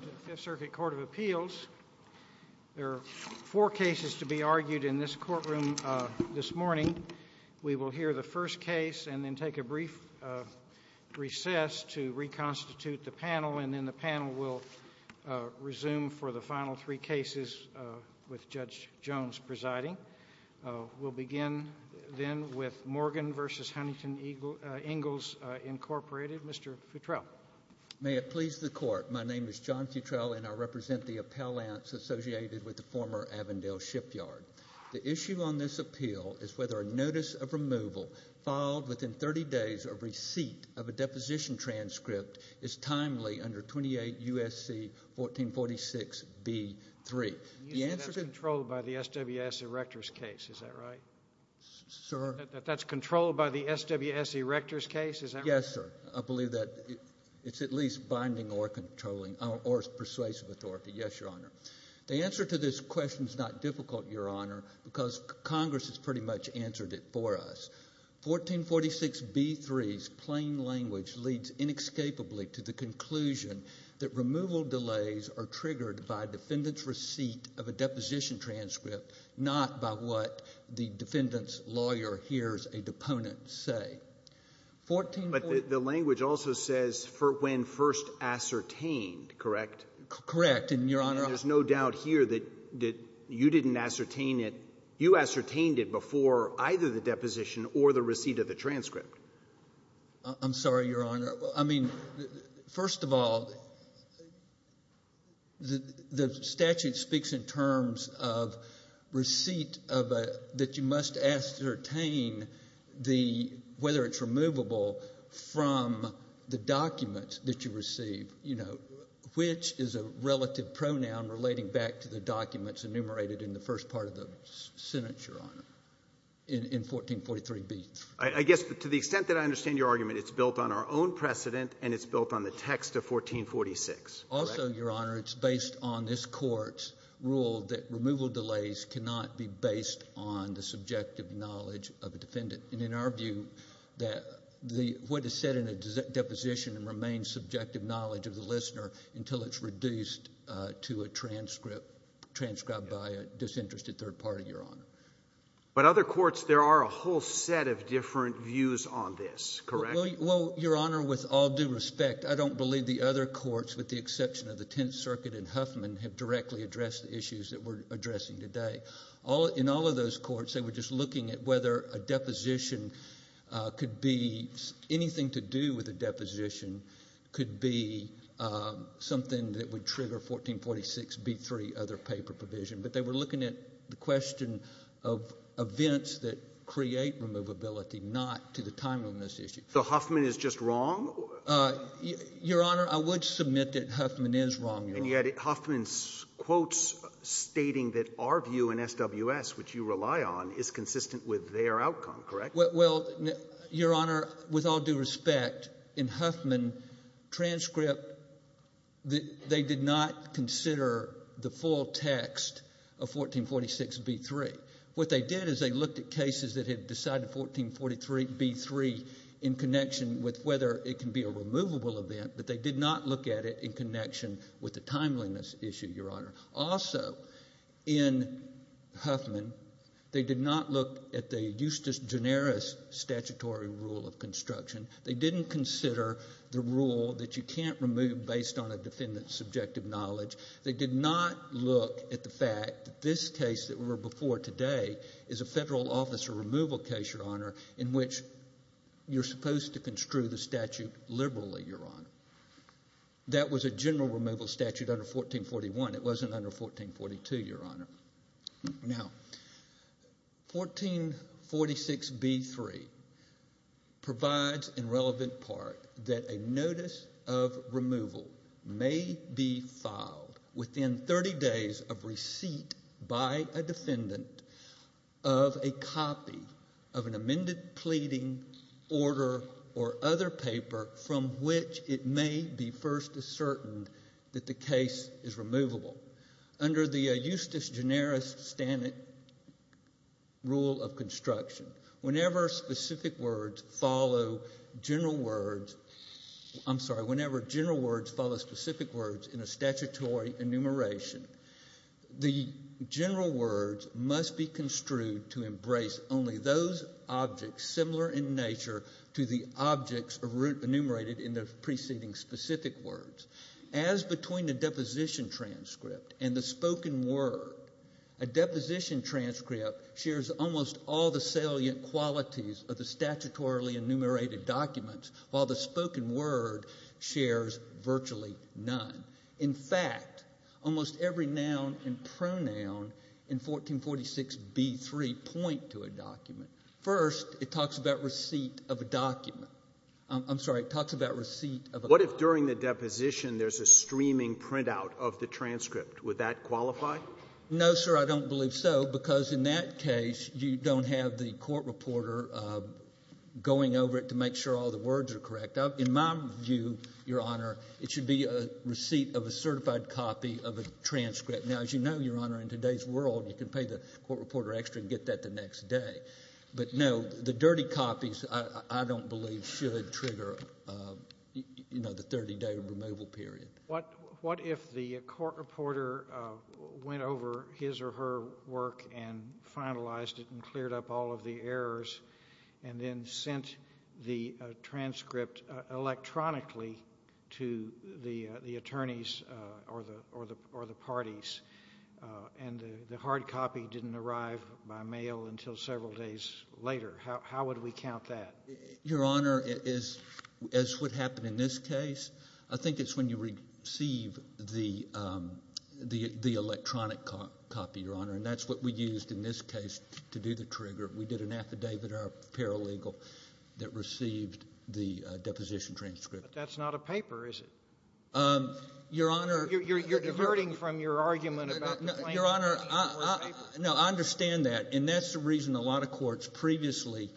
The Fifth Circuit Court of Appeals. There are four cases to be argued in this courtroom this morning. We will hear the first case and then take a brief recess to reconstitute the panel, and then the panel will resume for the final three cases with Judge Jones presiding. We'll begin then with Morgan v. Huntington Ingalls, Incorporated. Mr. Futrell. May it please the Court. My name is John Futrell, and I represent the appellants associated with the former Avondale Shipyard. The issue on this appeal is whether a notice of removal filed within 30 days of receipt of a deposition transcript is timely under 28 U.S.C. 1446 B.3. You say that's controlled by the SWS Erector's case, is that right? Sir? That that's controlled by the SWS Erector's case, is that right? Yes, sir. I believe that it's at least binding or controlling or persuasive authority. Yes, Your Honor. The answer to this question is not difficult, Your Honor, because Congress has pretty much answered it for us. 1446 B.3's plain language leads inescapably to the conclusion that removal delays are triggered by defendant's receipt of a deposition transcript, not by what the defendant's lawyer hears a deponent say. But the language also says for when first ascertained, correct? Correct, Your Honor. And there's no doubt here that you didn't ascertain it. You ascertained it before either the deposition or the receipt of the transcript. I'm sorry, Your Honor. I mean, first of all, the statute speaks in terms of receipt that you must ascertain whether it's removable from the document that you receive, which is a relative pronoun relating back to the documents enumerated in the first part of the sentence, Your Honor, in 1443 B.3. To the extent that I understand your argument, it's built on our own precedent and it's built on the text of 1446, correct? Also, Your Honor, it's based on this Court's rule that removal delays cannot be based on the subjective knowledge of a defendant. And in our view, what is said in a deposition remains subjective knowledge of the listener until it's reduced to a transcript transcribed by a disinterested third party, Your Honor. But other courts, there are a whole set of different views on this, correct? Well, Your Honor, with all due respect, I don't believe the other courts, with the exception of the Tenth Circuit and Huffman, have directly addressed the issues that we're addressing today. In all of those courts, they were just looking at whether a deposition could be – anything to do with a deposition could be something that would trigger 1446 B.3. But they were looking at the question of events that create removability, not to the time on this issue. So Huffman is just wrong? Your Honor, I would submit that Huffman is wrong. And yet Huffman's quotes stating that our view in SWS, which you rely on, is consistent with their outcome, correct? Well, Your Honor, with all due respect, in Huffman, transcript – they did not consider the full text of 1446 B.3. What they did is they looked at cases that had decided 1443 B.3 in connection with whether it can be a removable event, but they did not look at it in connection with the timeliness issue, Your Honor. Also, in Huffman, they did not look at the justus generis statutory rule of construction. They didn't consider the rule that you can't remove based on a defendant's subjective knowledge. They did not look at the fact that this case that we're before today is a federal officer removal case, Your Honor, in which you're supposed to construe the statute liberally, Your Honor. That was a general removal statute under 1441. It wasn't under 1442, Your Honor. Now, 1446 B.3 provides, in relevant part, that a notice of removal may be filed within 30 days of receipt by a defendant of a copy of an amended pleading order or other paper from which it may be first ascertained that the case is removable. Under the justus generis rule of construction, whenever specific words follow general words in a statutory enumeration, the general words must be construed to embrace only those objects similar in nature to the objects enumerated in the preceding specific words. As between the deposition transcript and the spoken word, a deposition transcript shares almost all the salient qualities of the statutorily enumerated documents, while the spoken word shares virtually none. In fact, almost every noun and pronoun in 1446 B.3 point to a document. First, it talks about receipt of a document. I'm sorry. It talks about receipt of a document. What if during the deposition there's a streaming printout of the transcript? Would that qualify? No, sir. I don't believe so, because in that case, you don't have the court reporter going over it to make sure all the words are correct. In my view, Your Honor, it should be a receipt of a certified copy of a transcript. Now, as you know, Your Honor, in today's world, you can pay the court reporter extra and get that the next day. But, no, the dirty copies, I don't believe, should trigger the 30-day removal period. What if the court reporter went over his or her work and finalized it and cleared up all of the errors and then sent the transcript electronically to the attorneys or the parties, and the hard copy didn't arrive by mail until several days later? How would we count that? Your Honor, as would happen in this case, I think it's when you receive the electronic copy, Your Honor, and that's what we used in this case to do the trigger. We did an affidavit or a paralegal that received the deposition transcript. But that's not a paper, is it? Your Honor. You're diverting from your argument about the claim that it was paper. No, I understand that. And that's the reason a lot of courts previously,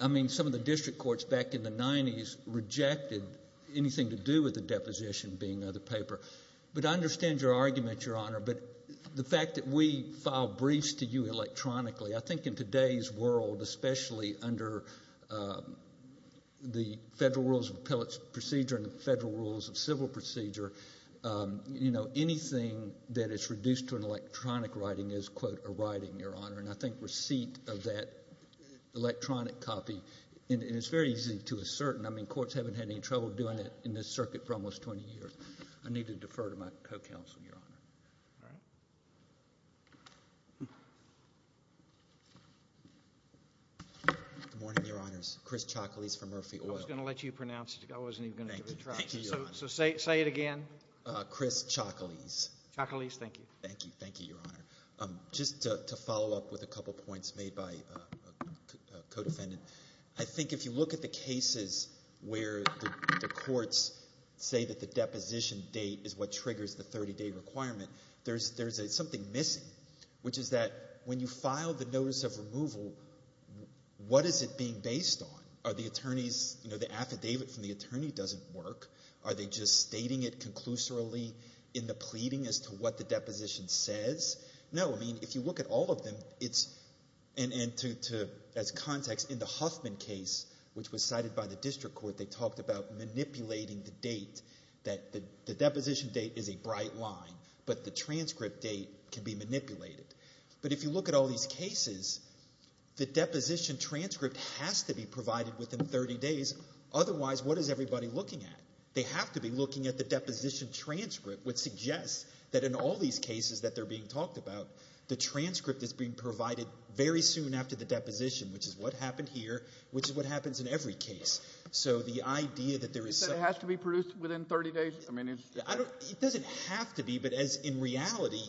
I mean, some of the district courts back in the 90s, rejected anything to do with the deposition being another paper. But I understand your argument, Your Honor. But the fact that we filed briefs to you electronically, I think in today's world, especially under the Federal Rules of Appellate Procedure and the Federal Rules of Civil Procedure, anything that is reduced to an electronic writing is, quote, a writing, Your Honor. And I think receipt of that electronic copy, and it's very easy to assert, and I mean courts haven't had any trouble doing it in this circuit for almost 20 years. All right. Good morning, Your Honors. Chris Chocolese from Murphy Oil. I was going to let you pronounce it. I wasn't even going to give it a try. Thank you. Thank you, Your Honor. So say it again. Chris Chocolese. Chocolese, thank you. Thank you. Thank you, Your Honor. Just to follow up with a couple points made by a co-defendant, I think if you look at the cases where the courts say that the deposition date is what triggers the 30-day requirement, there's something missing, which is that when you file the notice of removal, what is it being based on? Are the attorneys, you know, the affidavit from the attorney doesn't work? Are they just stating it conclusorily in the pleading as to what the deposition says? No. I mean, if you look at all of them, and as context, in the Huffman case, which was cited by the district court, they talked about manipulating the date, that the deposition date is a bright line, but the transcript date can be manipulated. But if you look at all these cases, the deposition transcript has to be provided within 30 days. Otherwise, what is everybody looking at? They have to be looking at the deposition transcript, which suggests that in all these cases that they're being talked about, the transcript is being provided very soon after the deposition, which is what happened here, which is what happens in every case. So the idea that there is some – You said it has to be produced within 30 days? I mean, it's – It doesn't have to be, but as in reality,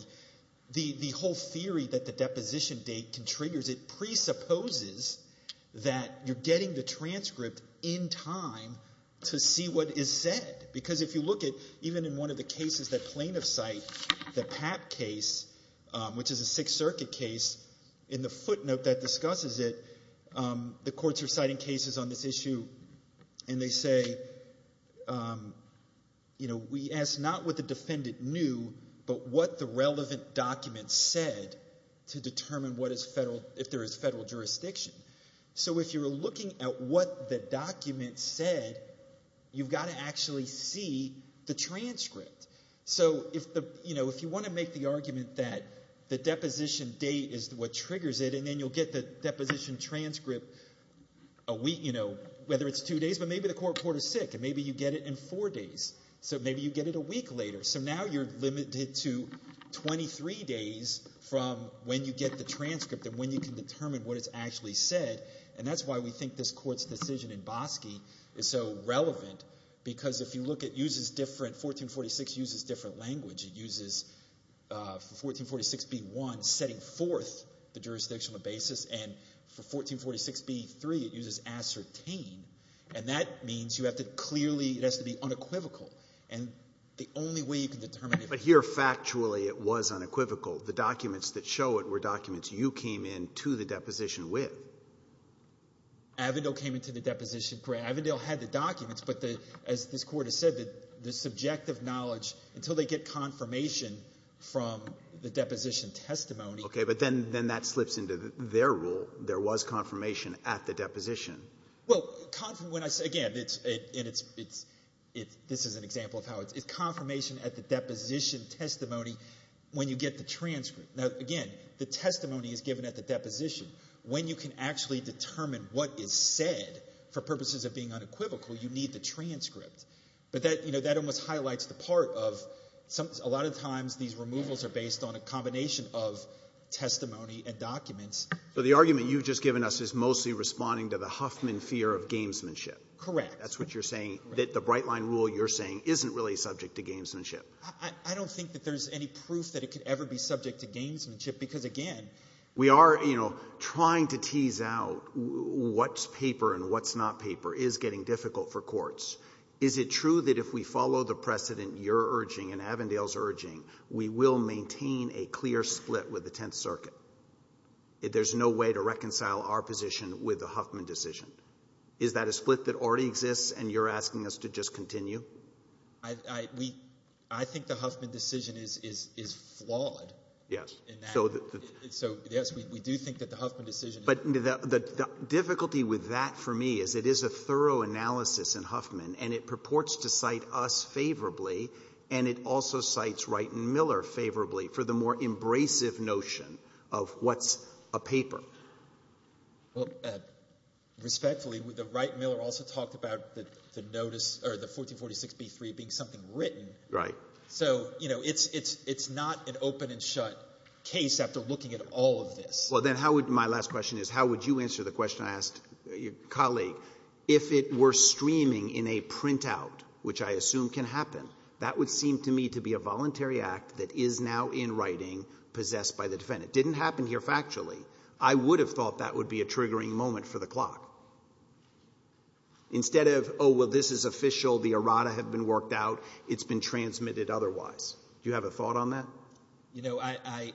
the whole theory that the deposition date can trigger, it presupposes that you're getting the transcript in time to see what is said. Because if you look at – even in one of the cases that plaintiffs cite, the Papp case, which is a Sixth Circuit case, in the footnote that discusses it, the courts are citing cases on this issue, and they say, we ask not what the defendant knew but what the relevant document said to determine what is federal – if there is federal jurisdiction. So if you're looking at what the document said, you've got to actually see the transcript. So if you want to make the argument that the deposition date is what triggers it and then you'll get the deposition transcript a week – whether it's two days, but maybe the court is sick and maybe you get it in four days. So maybe you get it a week later. So now you're limited to 23 days from when you get the transcript and when you can determine what is actually said. And that's why we think this court's decision in Bosque is so relevant because if you look, it uses different – 1446 uses different language. It uses – for 1446b-1, setting forth the jurisdictional basis. And for 1446b-3, it uses ascertain. And that means you have to clearly – it has to be unequivocal. And the only way you can determine – But here, factually, it was unequivocal. The documents that show it were documents you came into the deposition with. Avondale came into the deposition – Avondale had the documents. But the – as this Court has said, the subjective knowledge, until they get confirmation from the deposition testimony – Okay. But then that slips into their rule. There was confirmation at the deposition. Well, when I say – again, it's – and it's – this is an example of how it's – it's confirmation at the deposition testimony when you get the transcript. Now, again, the testimony is given at the deposition. When you can actually determine what is said for purposes of being unequivocal, you need the transcript. But that – you know, that almost highlights the part of – a lot of times these removals are based on a combination of testimony and documents. So the argument you've just given us is mostly responding to the Huffman fear of gamesmanship. Correct. That's what you're saying – that the Brightline rule you're saying isn't really subject to gamesmanship. I don't think that there's any proof that it could ever be subject to gamesmanship because, again, We are trying to tease out what's paper and what's not paper is getting difficult for courts. Is it true that if we follow the precedent you're urging and Avondale's urging, we will maintain a clear split with the Tenth Circuit? There's no way to reconcile our position with the Huffman decision. Is that a split that already exists and you're asking us to just continue? I think the Huffman decision is flawed. Yes. So, yes, we do think that the Huffman decision is flawed. But the difficulty with that for me is it is a thorough analysis in Huffman and it purports to cite us favorably and it also cites Wright and Miller favorably for the more embracive notion of what's a paper. Respectfully, Wright and Miller also talked about the 1446b-3 being something written. Right. So, you know, it's not an open and shut case after looking at all of this. Well, then, my last question is how would you answer the question I asked your colleague? If it were streaming in a printout, which I assume can happen, that would seem to me to be a voluntary act that is now in writing possessed by the defendant. It didn't happen here factually. I would have thought that would be a triggering moment for the clock. Instead of, oh, well, this is official, the errata have been worked out, it's been transmitted otherwise. Do you have a thought on that? You know, I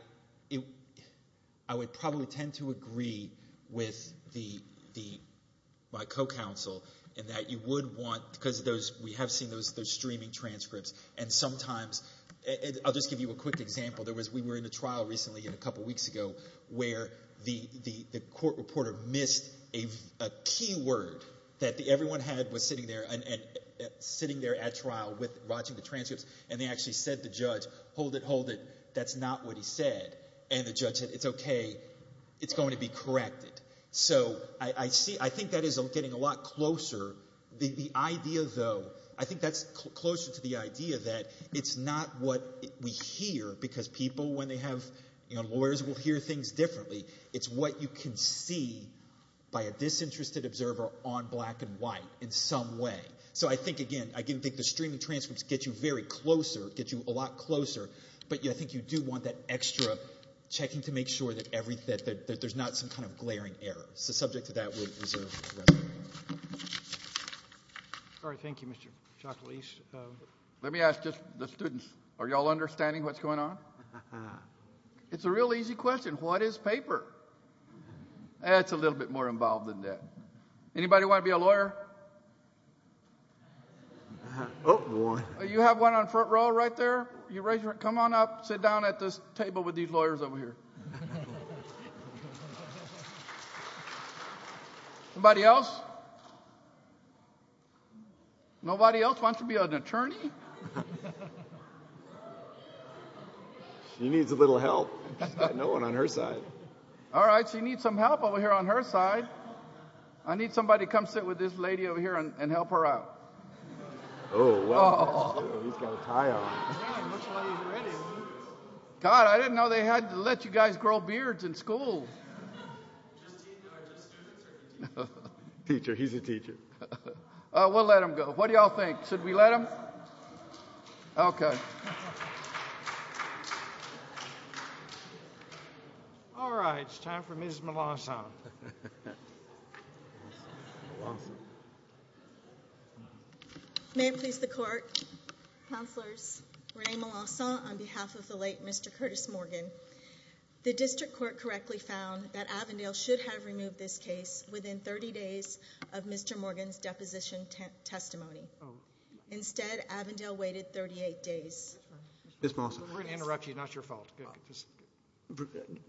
would probably tend to agree with my co-counsel in that you would want, because we have seen those streaming transcripts, and sometimes I'll just give you a quick example. We were in a trial recently a couple weeks ago where the court reporter missed a keyword that everyone had was sitting there at trial watching the transcripts, and they actually said to the judge, hold it, hold it, that's not what he said. And the judge said, it's okay, it's going to be corrected. So I think that is getting a lot closer. The idea, though, I think that's closer to the idea that it's not what we hear, because people when they have, you know, lawyers will hear things differently. It's what you can see by a disinterested observer on black and white in some way. So I think, again, I think the streaming transcripts get you very closer, get you a lot closer, but I think you do want that extra checking to make sure that there's not some kind of glaring error. So subject to that, we'll reserve the rest of the hearing. All right, thank you, Mr. Chaklis. Let me ask just the students, are you all understanding what's going on? It's a real easy question, what is paper? That's a little bit more involved than that. Anybody want to be a lawyer? You have one on the front row right there? Come on up, sit down at this table with these lawyers over here. Anybody else? Nobody else wants to be an attorney? She needs a little help. She's got no one on her side. All right, she needs some help over here on her side. I need somebody to come sit with this lady over here and help her out. Oh, well, he's got a tie on. God, I didn't know they had to let you guys grow beards in school. Just students or a teacher? Teacher, he's a teacher. We'll let him go. What do you all think? Should we let him? Okay. All right, it's time for Ms. Melanson. May it please the Court, Counselors, Renee Melanson on behalf of the late Mr. Curtis Morgan. The district court correctly found that Avondale should have removed this case within 30 days of Mr. Morgan's deposition testimony. Instead, Avondale waited 38 days. Ms. Melanson. We're going to interrupt you. It's not your fault.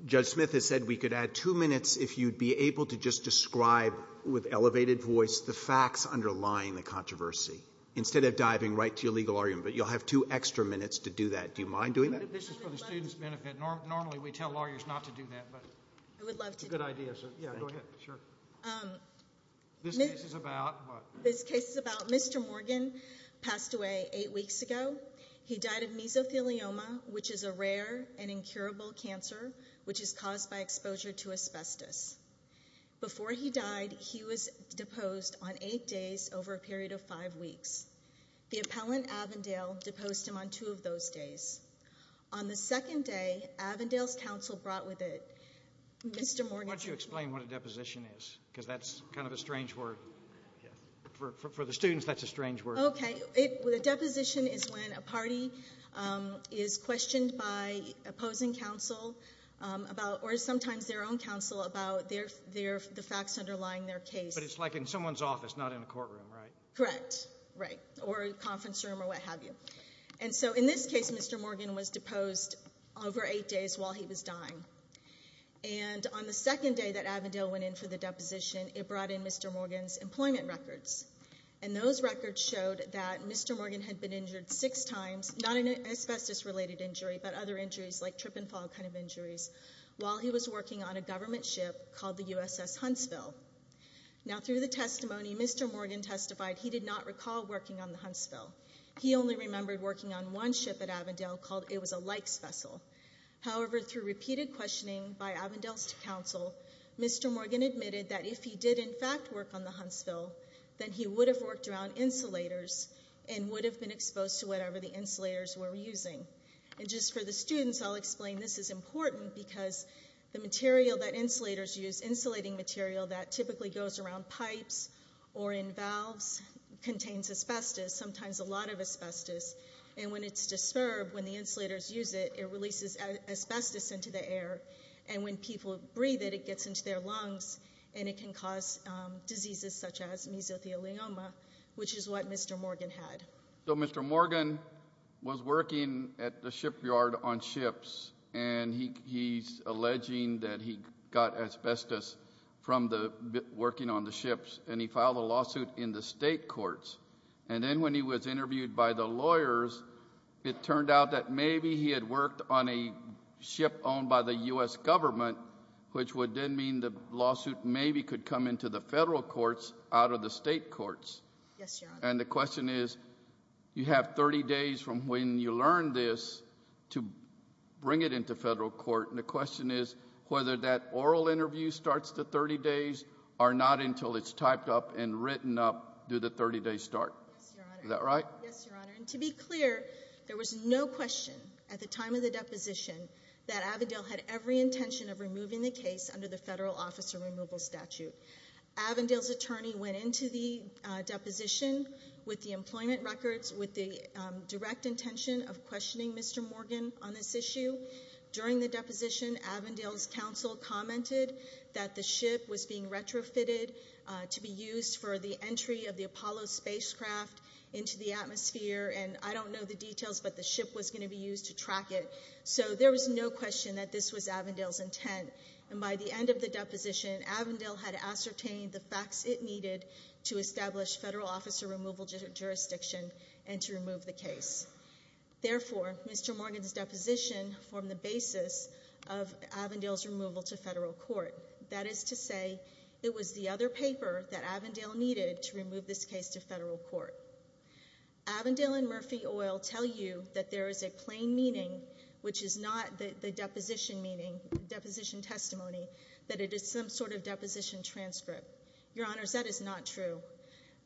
Judge Smith has said we could add two minutes if you'd be able to just describe with elevated voice the facts underlying the controversy instead of diving right to your legal argument. But you'll have two extra minutes to do that. Do you mind doing that? This is for the students' benefit. Normally we tell lawyers not to do that. I would love to. It's a good idea. Go ahead. This case is about what? This case is about Mr. Morgan passed away eight weeks ago. He died of mesothelioma, which is a rare and incurable cancer, which is caused by exposure to asbestos. Before he died, he was deposed on eight days over a period of five weeks. The appellant, Avondale, deposed him on two of those days. On the second day, Avondale's counsel brought with it Mr. Morgan. Why don't you explain what a deposition is? Because that's kind of a strange word. For the students, that's a strange word. Okay. A deposition is when a party is questioned by opposing counsel or sometimes their own counsel about the facts underlying their case. But it's like in someone's office, not in a courtroom, right? Correct. Right. Or a conference room or what have you. In this case, Mr. Morgan was deposed over eight days while he was dying. On the second day that Avondale went in for the deposition, it brought in Mr. Morgan's employment records. Those records showed that Mr. Morgan had been injured six times, not an asbestos-related injury but other injuries like trip and fall kind of injuries, while he was working on a government ship called the USS Huntsville. Through the testimony, Mr. Morgan testified he did not recall working on the Huntsville. He only remembered working on one ship at Avondale called It Was a Likes Vessel. However, through repeated questioning by Avondale's counsel, Mr. Morgan admitted that if he did, in fact, work on the Huntsville, then he would have worked around insulators and would have been exposed to whatever the insulators were using. And just for the students, I'll explain. This is important because the material that insulators use, insulating material that typically goes around pipes or in valves, contains asbestos, sometimes a lot of asbestos. And when it's disturbed, when the insulators use it, it releases asbestos into the air. And when people breathe it, it gets into their lungs, and it can cause diseases such as mesothelioma, which is what Mr. Morgan had. So Mr. Morgan was working at the shipyard on ships, and he's alleging that he got asbestos from working on the ships. And he filed a lawsuit in the state courts. And then when he was interviewed by the lawyers, it turned out that maybe he had worked on a ship owned by the U.S. government, which would then mean the lawsuit maybe could come into the federal courts out of the state courts. And the question is, you have 30 days from when you learned this to bring it into federal court. And the question is whether that oral interview starts the 30 days or not until it's typed up and written up due to the 30-day start. Is that right? Yes, Your Honor. And to be clear, there was no question at the time of the deposition that Avondale had every intention of removing the case under the federal officer removal statute. Avondale's attorney went into the deposition with the employment records with the direct intention of questioning Mr. Morgan on this issue. During the deposition, Avondale's counsel commented that the ship was being retrofitted to be used for the entry of the Apollo spacecraft into the atmosphere, and I don't know the details, but the ship was going to be used to track it. So there was no question that this was Avondale's intent. And by the end of the deposition, Avondale had ascertained the facts it needed to establish federal officer removal jurisdiction and to remove the case. Therefore, Mr. Morgan's deposition formed the basis of Avondale's removal to federal court. That is to say, it was the other paper that Avondale needed to remove this case to federal court. Avondale and Murphy Oil tell you that there is a plain meaning, which is not the deposition meaning, deposition testimony, that it is some sort of deposition transcript. Your Honors, that is not true.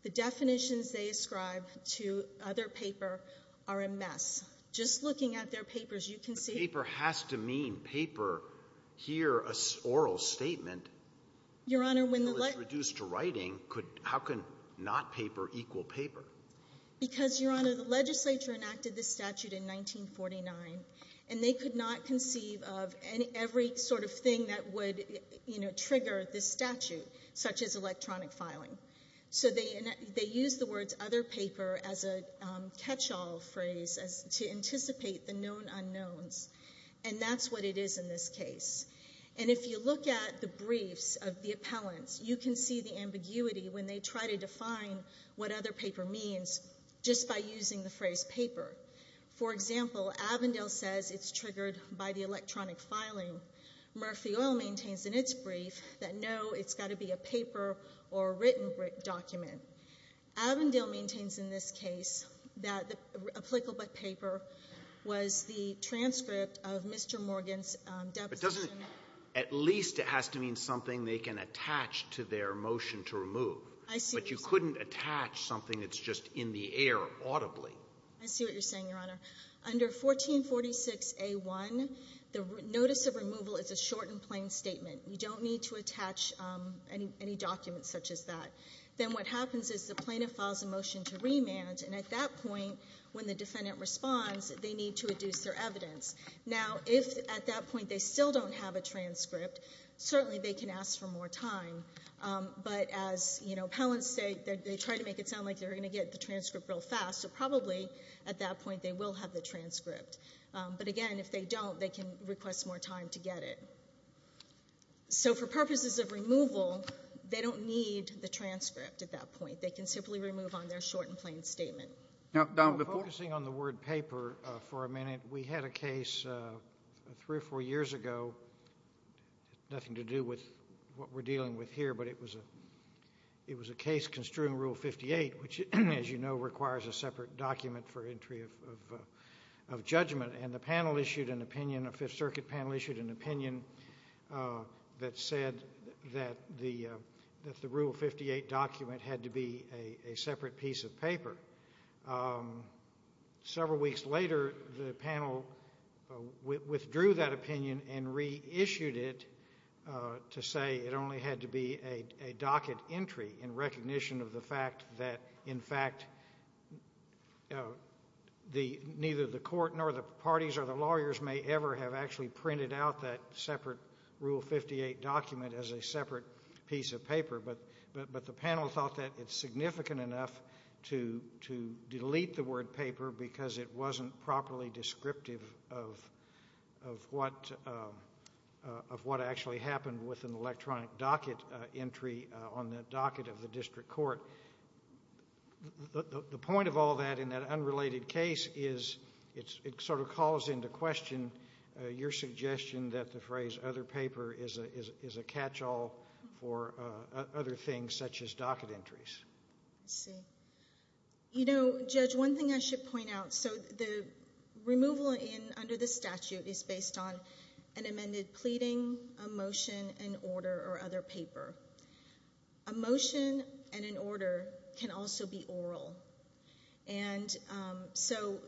The definitions they ascribe to other paper are a mess. Just looking at their papers, you can see... The paper has to mean paper here, an oral statement. Your Honor, when the... It's reduced to writing. How can not paper equal paper? Because, Your Honor, the legislature enacted this statute in 1949, and they could not conceive of every sort of thing that would trigger this statute, such as electronic filing. So they used the words other paper as a catch-all phrase to anticipate the known unknowns, and that's what it is in this case. And if you look at the briefs of the appellants, you can see the ambiguity when they try to define what other paper means just by using the phrase paper. For example, Avondale says it's triggered by the electronic filing. Murphy Oil maintains in its brief that, no, it's got to be a paper or written document. Avondale maintains in this case that applicable paper was the transcript of Mr. Morgan's deposition... But doesn't it at least it has to mean something they can attach to their motion to remove? I see what you're saying. But you couldn't attach something that's just in the air audibly. I see what you're saying, Your Honor. Under 1446A1, the notice of removal is a short and plain statement. You don't need to attach any documents such as that. Then what happens is the plaintiff files a motion to remand, and at that point when the defendant responds, they need to reduce their evidence. Now, if at that point they still don't have a transcript, certainly they can ask for more time. But as appellants say, they try to make it sound like they're going to get the transcript real fast, so probably at that point they will have the transcript. But, again, if they don't, they can request more time to get it. So for purposes of removal, they don't need the transcript at that point. They can simply remove on their short and plain statement. Now, focusing on the word paper for a minute, we had a case three or four years ago, nothing to do with what we're dealing with here, but it was a case construing Rule 58, which, as you know, requires a separate document for entry of judgment. And the panel issued an opinion, a Fifth Circuit panel issued an opinion, that said that the Rule 58 document had to be a separate piece of paper. Several weeks later, the panel withdrew that opinion and reissued it to say it only had to be a docket entry in recognition of the fact that, in fact, neither the court nor the parties or the lawyers may ever have actually printed out that separate Rule 58 document as a separate piece of paper. But the panel thought that it's significant enough to delete the word paper because it wasn't properly descriptive of what actually happened with an electronic docket entry on the docket of the district court. The point of all that in that unrelated case is it sort of calls into question your suggestion that the phrase other paper is a catch-all for other things such as docket entries. Let's see. You know, Judge, one thing I should point out. So the removal under the statute is based on an amended pleading, a motion, an order, or other paper. A motion and an order can also be oral. And so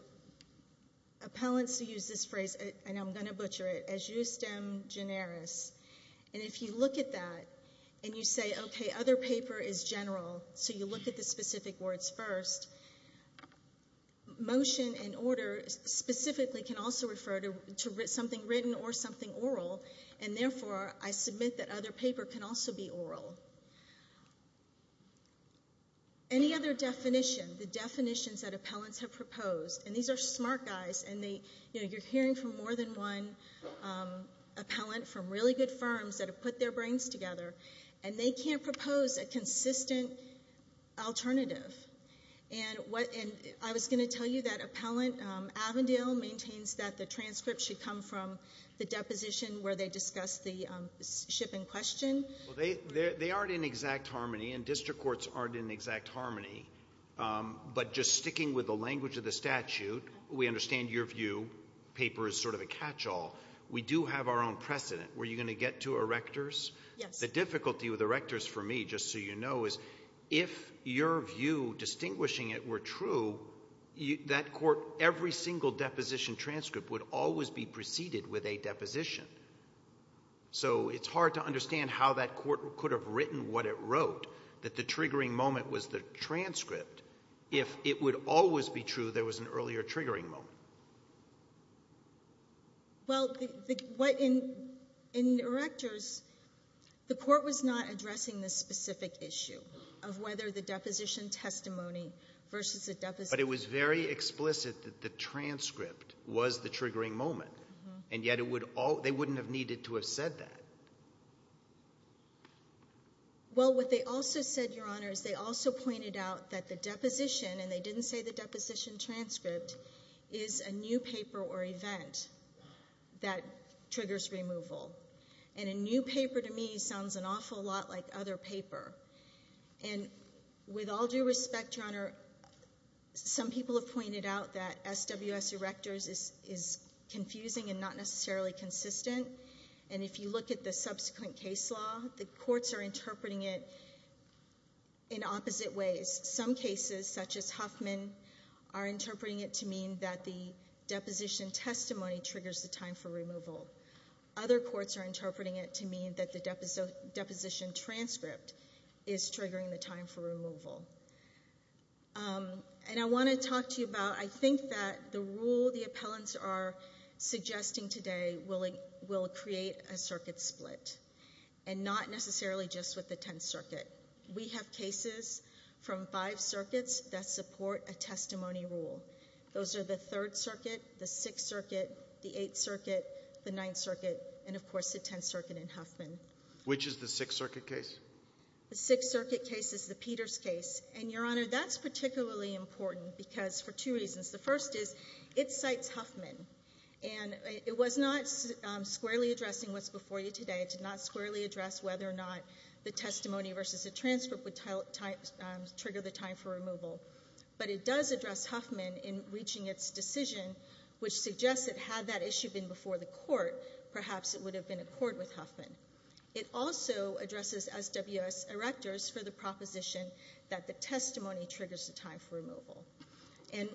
appellants use this phrase, and I'm going to butcher it, as justem generis. And if you look at that and you say, okay, other paper is general, so you look at the specific words first, motion and order specifically can also refer to something written or something oral, and therefore I submit that other paper can also be oral. Any other definition, the definitions that appellants have proposed, and these are smart guys, and you're hearing from more than one appellant from really good firms that have put their brains together, and they can't propose a consistent alternative. And I was going to tell you that appellant Avondale maintains that the transcript should come from the deposition where they discuss the ship in question. Well, they aren't in exact harmony, and district courts aren't in exact harmony. But just sticking with the language of the statute, we understand your view, paper is sort of a catch-all. We do have our own precedent. Were you going to get to erectors? Yes. The difficulty with erectors for me, just so you know, is if your view distinguishing it were true, that court, every single deposition transcript would always be preceded with a deposition. So it's hard to understand how that court could have written what it wrote, that the triggering moment was the transcript, if it would always be true there was an earlier triggering moment. Well, in erectors, the court was not addressing the specific issue of whether the deposition testimony versus a deposition. But it was very explicit that the transcript was the triggering moment, and yet they wouldn't have needed to have said that. Well, what they also said, Your Honor, is they also pointed out that the deposition, and they didn't say the deposition transcript, is a new paper or event that triggers removal. And a new paper to me sounds an awful lot like other paper. And with all due respect, Your Honor, some people have pointed out that SWS erectors is confusing and not necessarily consistent. And if you look at the subsequent case law, the courts are interpreting it in opposite ways. Some cases, such as Huffman, are interpreting it to mean that the deposition testimony triggers the time for removal. Other courts are interpreting it to mean that the deposition transcript is triggering the time for removal. And I want to talk to you about, I think that the rule the appellants are suggesting today will create a circuit split, and not necessarily just with the Tenth Circuit. We have cases from five circuits that support a testimony rule. Those are the Third Circuit, the Sixth Circuit, the Eighth Circuit, the Ninth Circuit, and, of course, the Tenth Circuit in Huffman. Which is the Sixth Circuit case? The Sixth Circuit case is the Peters case. And, Your Honor, that's particularly important because for two reasons. The first is it cites Huffman. And it was not squarely addressing what's before you today. It did not squarely address whether or not the testimony versus a transcript would trigger the time for removal. But it does address Huffman in reaching its decision, which suggests that had that issue been before the court, perhaps it would have been a court with Huffman. It also addresses SWS erectors for the proposition that the testimony triggers the time for removal. And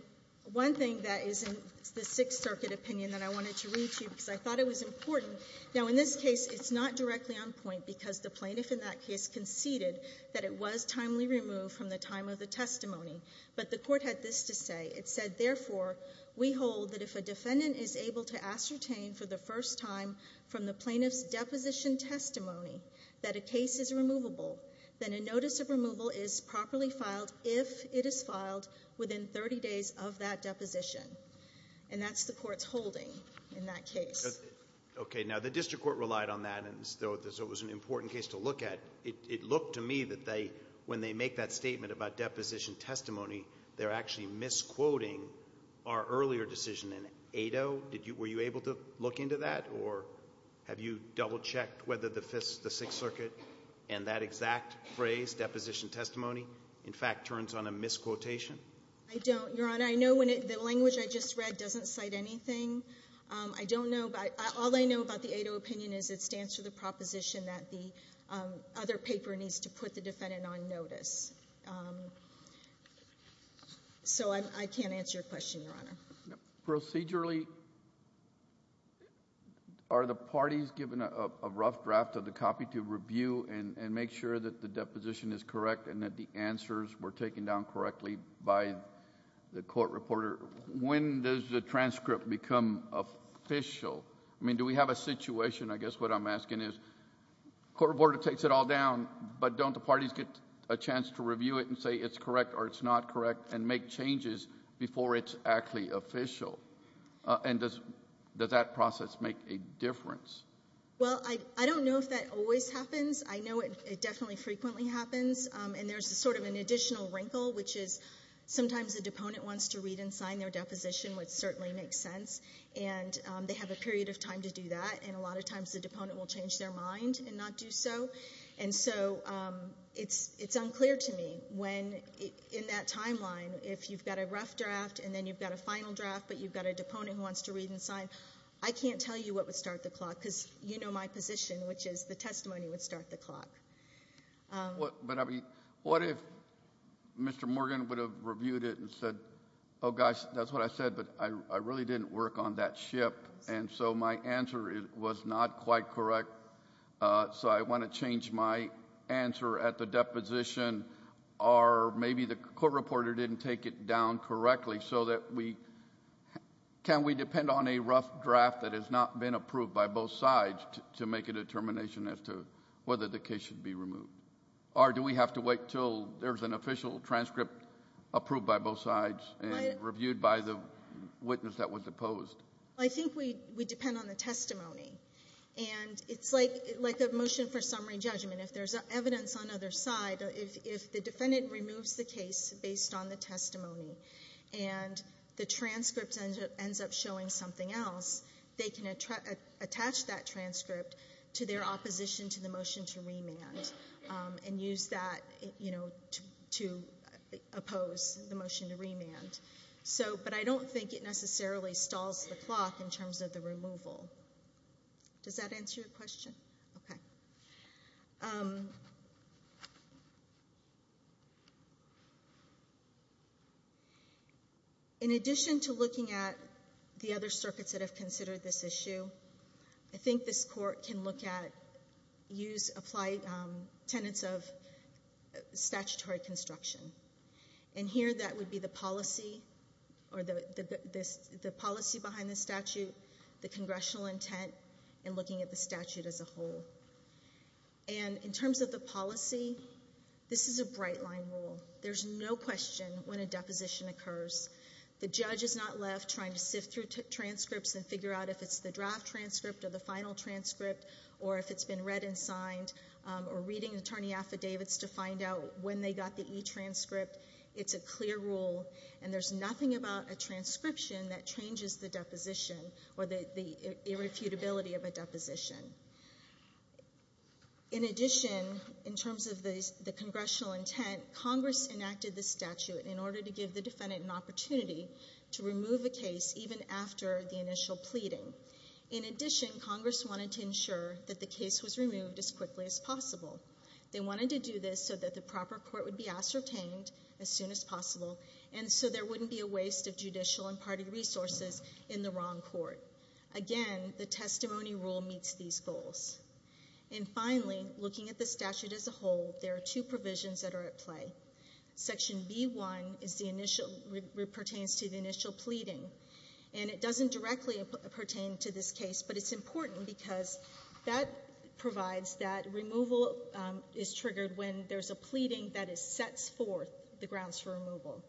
one thing that is in the Sixth Circuit opinion that I wanted to read to you because I thought it was important. Now, in this case, it's not directly on point because the plaintiff in that case conceded that it was timely removed from the time of the testimony. But the court had this to say. It said, therefore, we hold that if a defendant is able to ascertain for the first time from the plaintiff's deposition testimony that a case is removable, then a notice of removal is properly filed if it is filed within 30 days of that deposition. And that's the court's holding in that case. Okay. Now, the district court relied on that. And so it was an important case to look at. It looked to me that when they make that statement about deposition testimony, they're actually misquoting our earlier decision in 8-0. Were you able to look into that? Or have you double-checked whether the Sixth Circuit and that exact phrase, deposition testimony, in fact turns on a misquotation? I don't, Your Honor. I know the language I just read doesn't cite anything. I don't know. All I know about the 8-0 opinion is it stands for the proposition that the other paper needs to put the defendant on notice. So I can't answer your question, Your Honor. Procedurally, are the parties given a rough draft of the copy to review and make sure that the deposition is correct and that the answers were taken down correctly by the court reporter? When does the transcript become official? I mean, do we have a situation, I guess what I'm asking is, the court reporter takes it all down, but don't the parties get a chance to review it and say it's correct or it's not correct and make changes before it's actually official? And does that process make a difference? Well, I don't know if that always happens. I know it definitely frequently happens. And there's sort of an additional wrinkle, which is sometimes the deponent wants to read and sign their deposition, which certainly makes sense, and they have a period of time to do that, and a lot of times the deponent will change their mind and not do so. And so it's unclear to me when, in that timeline, if you've got a rough draft and then you've got a final draft but you've got a deponent who wants to read and sign, I can't tell you what would start the clock because you know my position, which is the testimony would start the clock. But I mean, what if Mr. Morgan would have reviewed it and said, oh gosh, that's what I said, but I really didn't work on that ship, and so my answer was not quite correct, so I want to change my answer at the deposition or maybe the court reporter didn't take it down correctly Can we depend on a rough draft that has not been approved by both sides to make a determination as to whether the case should be removed? Or do we have to wait until there's an official transcript approved by both sides and reviewed by the witness that was opposed? I think we depend on the testimony, and it's like a motion for summary judgment. If there's evidence on either side, if the defendant removes the case based on the testimony and the transcript ends up showing something else, they can attach that transcript to their opposition to the motion to remand and use that to oppose the motion to remand. But I don't think it necessarily stalls the clock in terms of the removal. Does that answer your question? Okay. In addition to looking at the other circuits that have considered this issue, I think this court can look at tenets of statutory construction. And here that would be the policy behind the statute, the congressional intent, and looking at the statute as a whole. And in terms of the policy, this is a bright-line rule. There's no question when a deposition occurs, the judge is not left trying to sift through transcripts and figure out if it's the draft transcript or the final transcript or if it's been read and signed or reading attorney affidavits to find out when they got the e-transcript. It's a clear rule, and there's nothing about a transcription that changes the deposition or the irrefutability of a deposition. In addition, in terms of the congressional intent, Congress enacted this statute in order to give the defendant an opportunity to remove a case even after the initial pleading. In addition, Congress wanted to ensure that the case was removed as quickly as possible. They wanted to do this so that the proper court would be ascertained as soon as possible and so there wouldn't be a waste of judicial and party resources in the wrong court. Again, the testimony rule meets these goals. And finally, looking at the statute as a whole, there are two provisions that are at play. Section B-1 pertains to the initial pleading, and it doesn't directly pertain to this case, but it's important because that provides that removal is triggered when there's a pleading that sets forth the grounds for removal.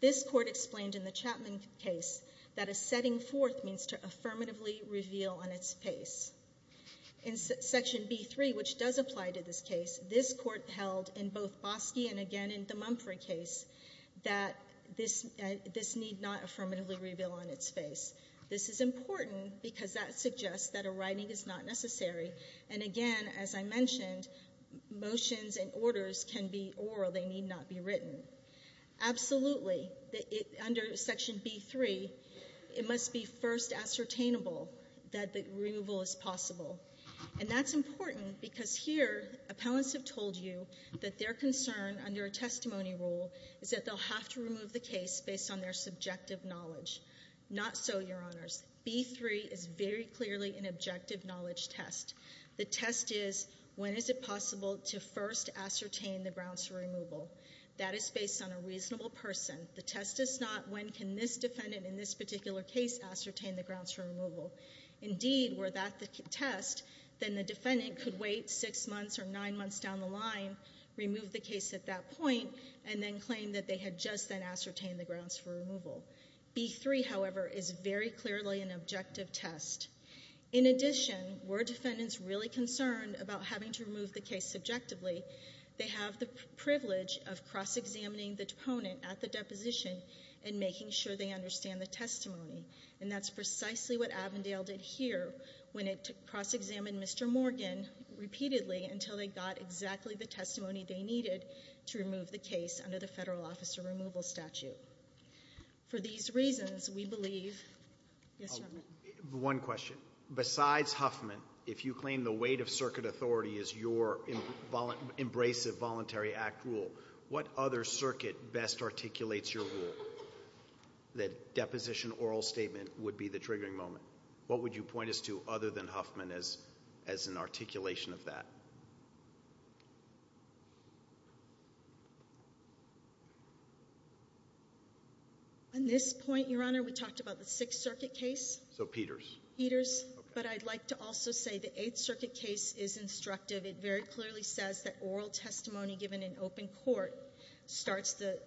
This Court explained in the Chapman case that a setting forth means to affirmatively reveal on its face. In Section B-3, which does apply to this case, this Court held in both Boski and again in the Mumfrey case that this need not affirmatively reveal on its face. This is important because that suggests that a writing is not necessary. And again, as I mentioned, motions and orders can be oral. They need not be written. Absolutely, under Section B-3, it must be first ascertainable that the removal is possible. And that's important because here, appellants have told you that their concern under a testimony rule is that they'll have to remove the case based on their subjective knowledge. Not so, Your Honors. B-3 is very clearly an objective knowledge test. The test is, when is it possible to first ascertain the grounds for removal? That is based on a reasonable person. The test is not, when can this defendant in this particular case ascertain the grounds for removal? Indeed, were that the test, then the defendant could wait six months or nine months down the line, remove the case at that point, and then claim that they had just then ascertained the grounds for removal. B-3, however, is very clearly an objective test. In addition, were defendants really concerned about having to remove the case subjectively, they have the privilege of cross-examining the deponent at the deposition and making sure they understand the testimony. And that's precisely what Avondale did here when it cross-examined Mr. Morgan repeatedly until they got exactly the testimony they needed to remove the case under the Federal Officer Removal Statute. For these reasons, we believe, yes, Your Honor. One question. Besides Huffman, if you claim the weight of circuit authority is your embracive voluntary act rule, what other circuit best articulates your rule that deposition oral statement would be the triggering moment? What would you point us to other than Huffman as an articulation of that? At this point, Your Honor, we talked about the Sixth Circuit case. So Peters. Peters. But I'd like to also say the Eighth Circuit case is instructive. It very clearly says that oral testimony given in open court starts the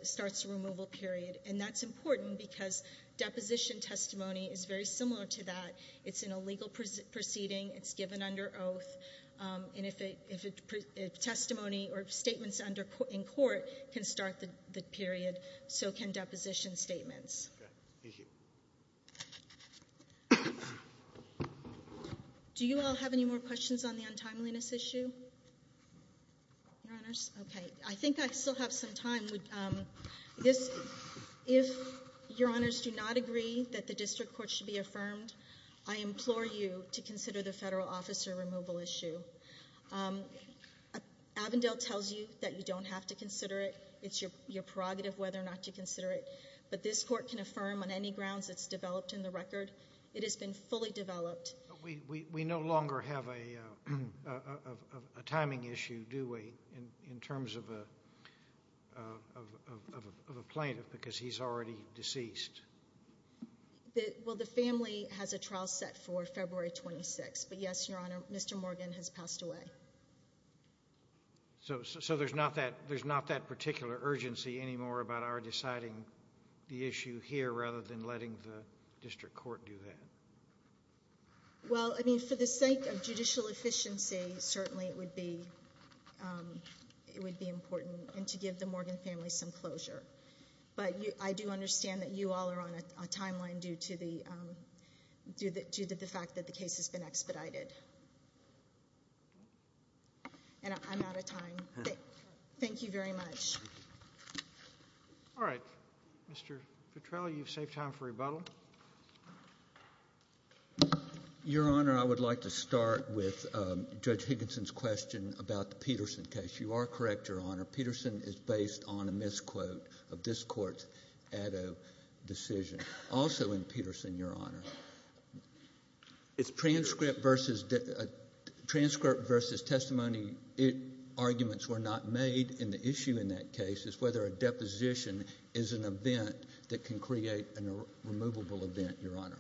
removal period. And that's important because deposition testimony is very similar to that. It's an illegal proceeding. It's given under oath. And if testimony or statements in court can start the period, so can deposition statements. Okay. Thank you. Do you all have any more questions on the untimeliness issue, Your Honors? Okay. I think I still have some time. If Your Honors do not agree that the district court should be affirmed, I implore you to consider the federal officer removal issue. Avondale tells you that you don't have to consider it. It's your prerogative whether or not to consider it. But this court can affirm on any grounds it's developed in the record. It has been fully developed. We no longer have a timing issue, do we, in terms of a plaintiff because he's already deceased? Well, the family has a trial set for February 26th. But, yes, Your Honor, Mr. Morgan has passed away. So there's not that particular urgency anymore about our deciding the issue here rather than letting the district court do that? Well, I mean, for the sake of judicial efficiency, certainly it would be important and to give the Morgan family some closure. But I do understand that you all are on a timeline due to the fact that the case has been expedited. And I'm out of time. Thank you very much. All right. Mr. Petrelli, you've saved time for rebuttal. Your Honor, I would like to start with Judge Higginson's question about the Peterson case. You are correct, Your Honor. Peterson is based on a misquote of this Court's Addo decision. Also in Peterson, Your Honor, transcript versus testimony arguments were not made. And the issue in that case is whether a deposition is an event that can create a removable event, Your Honor.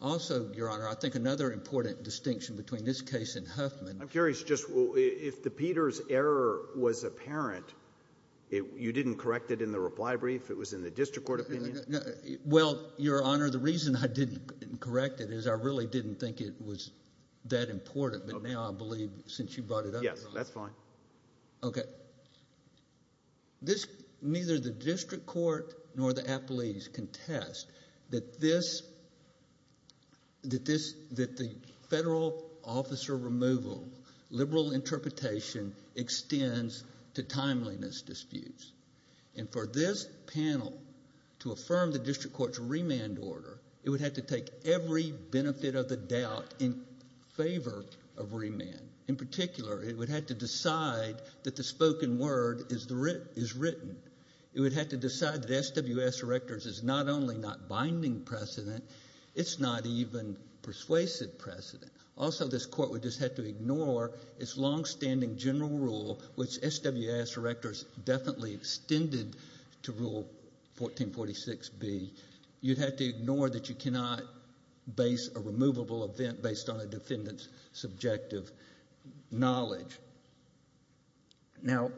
Also, Your Honor, I think another important distinction between this case and Huffman. I'm curious just if the Peters error was apparent, you didn't correct it in the reply brief? It was in the district court opinion? Well, Your Honor, the reason I didn't correct it is I really didn't think it was that important. But now I believe since you brought it up, Your Honor. Yes, that's fine. Okay. This, neither the district court nor the appellees contest that this, that the federal officer removal, liberal interpretation extends to timeliness disputes. And for this panel to affirm the district court's remand order, it would have to take every benefit of the doubt in favor of remand. In particular, it would have to decide that the spoken word is written. It would have to decide that SWS Erectors is not only not binding precedent, it's not even persuasive precedent. Also, this court would just have to ignore its longstanding general rule, which SWS Erectors definitely extended to Rule 1446B. You'd have to ignore that you cannot base a removable event based on a defendant's subjective knowledge. Now,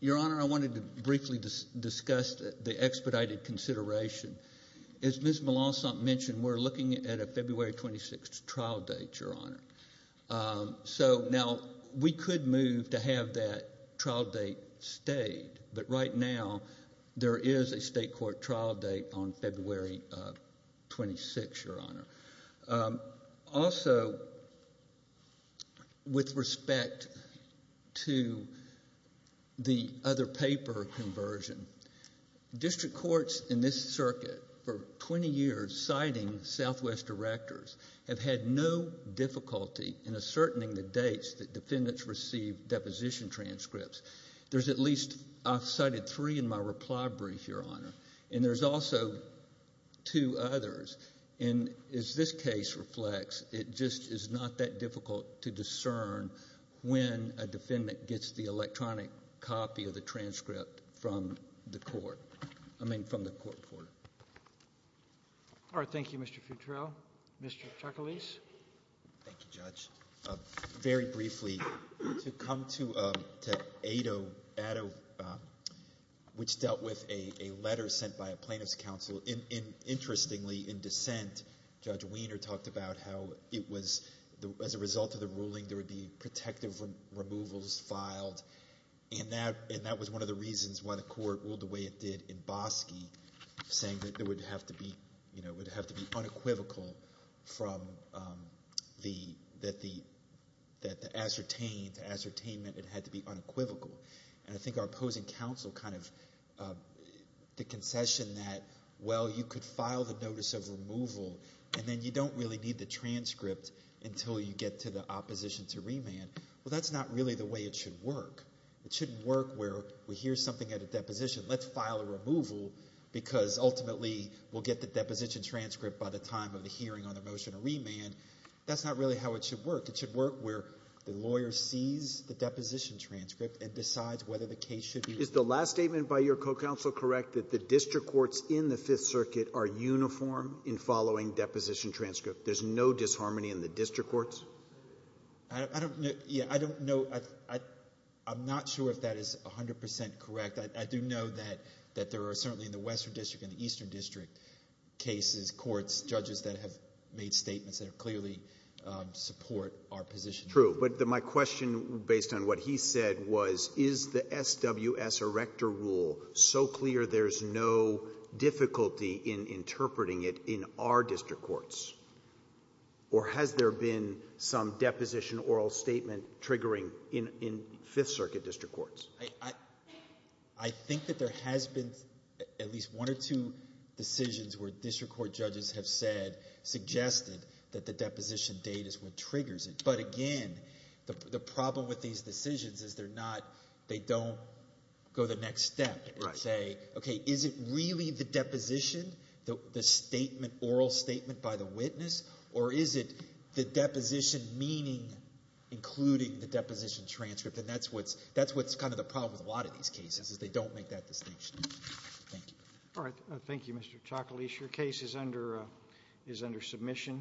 Your Honor, I wanted to briefly discuss the expedited consideration. As Ms. Malansant mentioned, we're looking at a February 26th trial date, Your Honor. So now we could move to have that trial date stayed, but right now there is a state court trial date on February 26th, Your Honor. Also, with respect to the other paper conversion, district courts in this circuit for 20 years citing SWS Erectors have had no difficulty in ascertaining the dates that defendants received deposition transcripts. There's at least, I've cited three in my reply brief, Your Honor. And there's also two others. And as this case reflects, it just is not that difficult to discern when a defendant gets the electronic copy of the transcript from the court, I mean from the court reporter. All right. Thank you, Mr. Futrell. Mr. Chakalis. Thank you, Judge. Very briefly, to come to Addo, which dealt with a letter sent by a plaintiff's counsel. Interestingly, in dissent, Judge Wiener talked about how it was, as a result of the ruling, there would be protective removals filed. And that was one of the reasons why the court ruled the way it did in Bosque, saying that it would have to be unequivocal that the ascertainment had to be unequivocal. And I think our opposing counsel kind of did concession that, well, you could file the notice of removal, and then you don't really need the transcript until you get to the opposition to remand. Well, that's not really the way it should work. It shouldn't work where we hear something at a deposition. Let's file a removal because ultimately we'll get the deposition transcript by the time of the hearing on the motion to remand. That's not really how it should work. It should work where the lawyer sees the deposition transcript and decides whether the case should be remanded. Is the last statement by your co-counsel correct, that the district courts in the Fifth Circuit are uniform in following deposition transcripts? There's no disharmony in the district courts? I don't know. I'm not sure if that is 100 percent correct. I do know that there are certainly in the Western District and the Eastern District cases, courts, judges that have made statements that clearly support our position. True. But my question, based on what he said, was, is the SWS Erector Rule so clear there's no difficulty in interpreting it in our district courts? Or has there been some deposition oral statement triggering in Fifth Circuit district courts? I think that there has been at least one or two decisions where district court judges have said, suggested that the deposition date is what triggers it. But again, the problem with these decisions is they're not, they don't go the next step and say, okay, is it really the deposition, the oral statement by the witness, or is it the deposition meaning including the deposition transcript? And that's what's kind of the problem with a lot of these cases is they don't make that distinction. Thank you. All right. Thank you, Mr. Chaklis. Your case is under submission.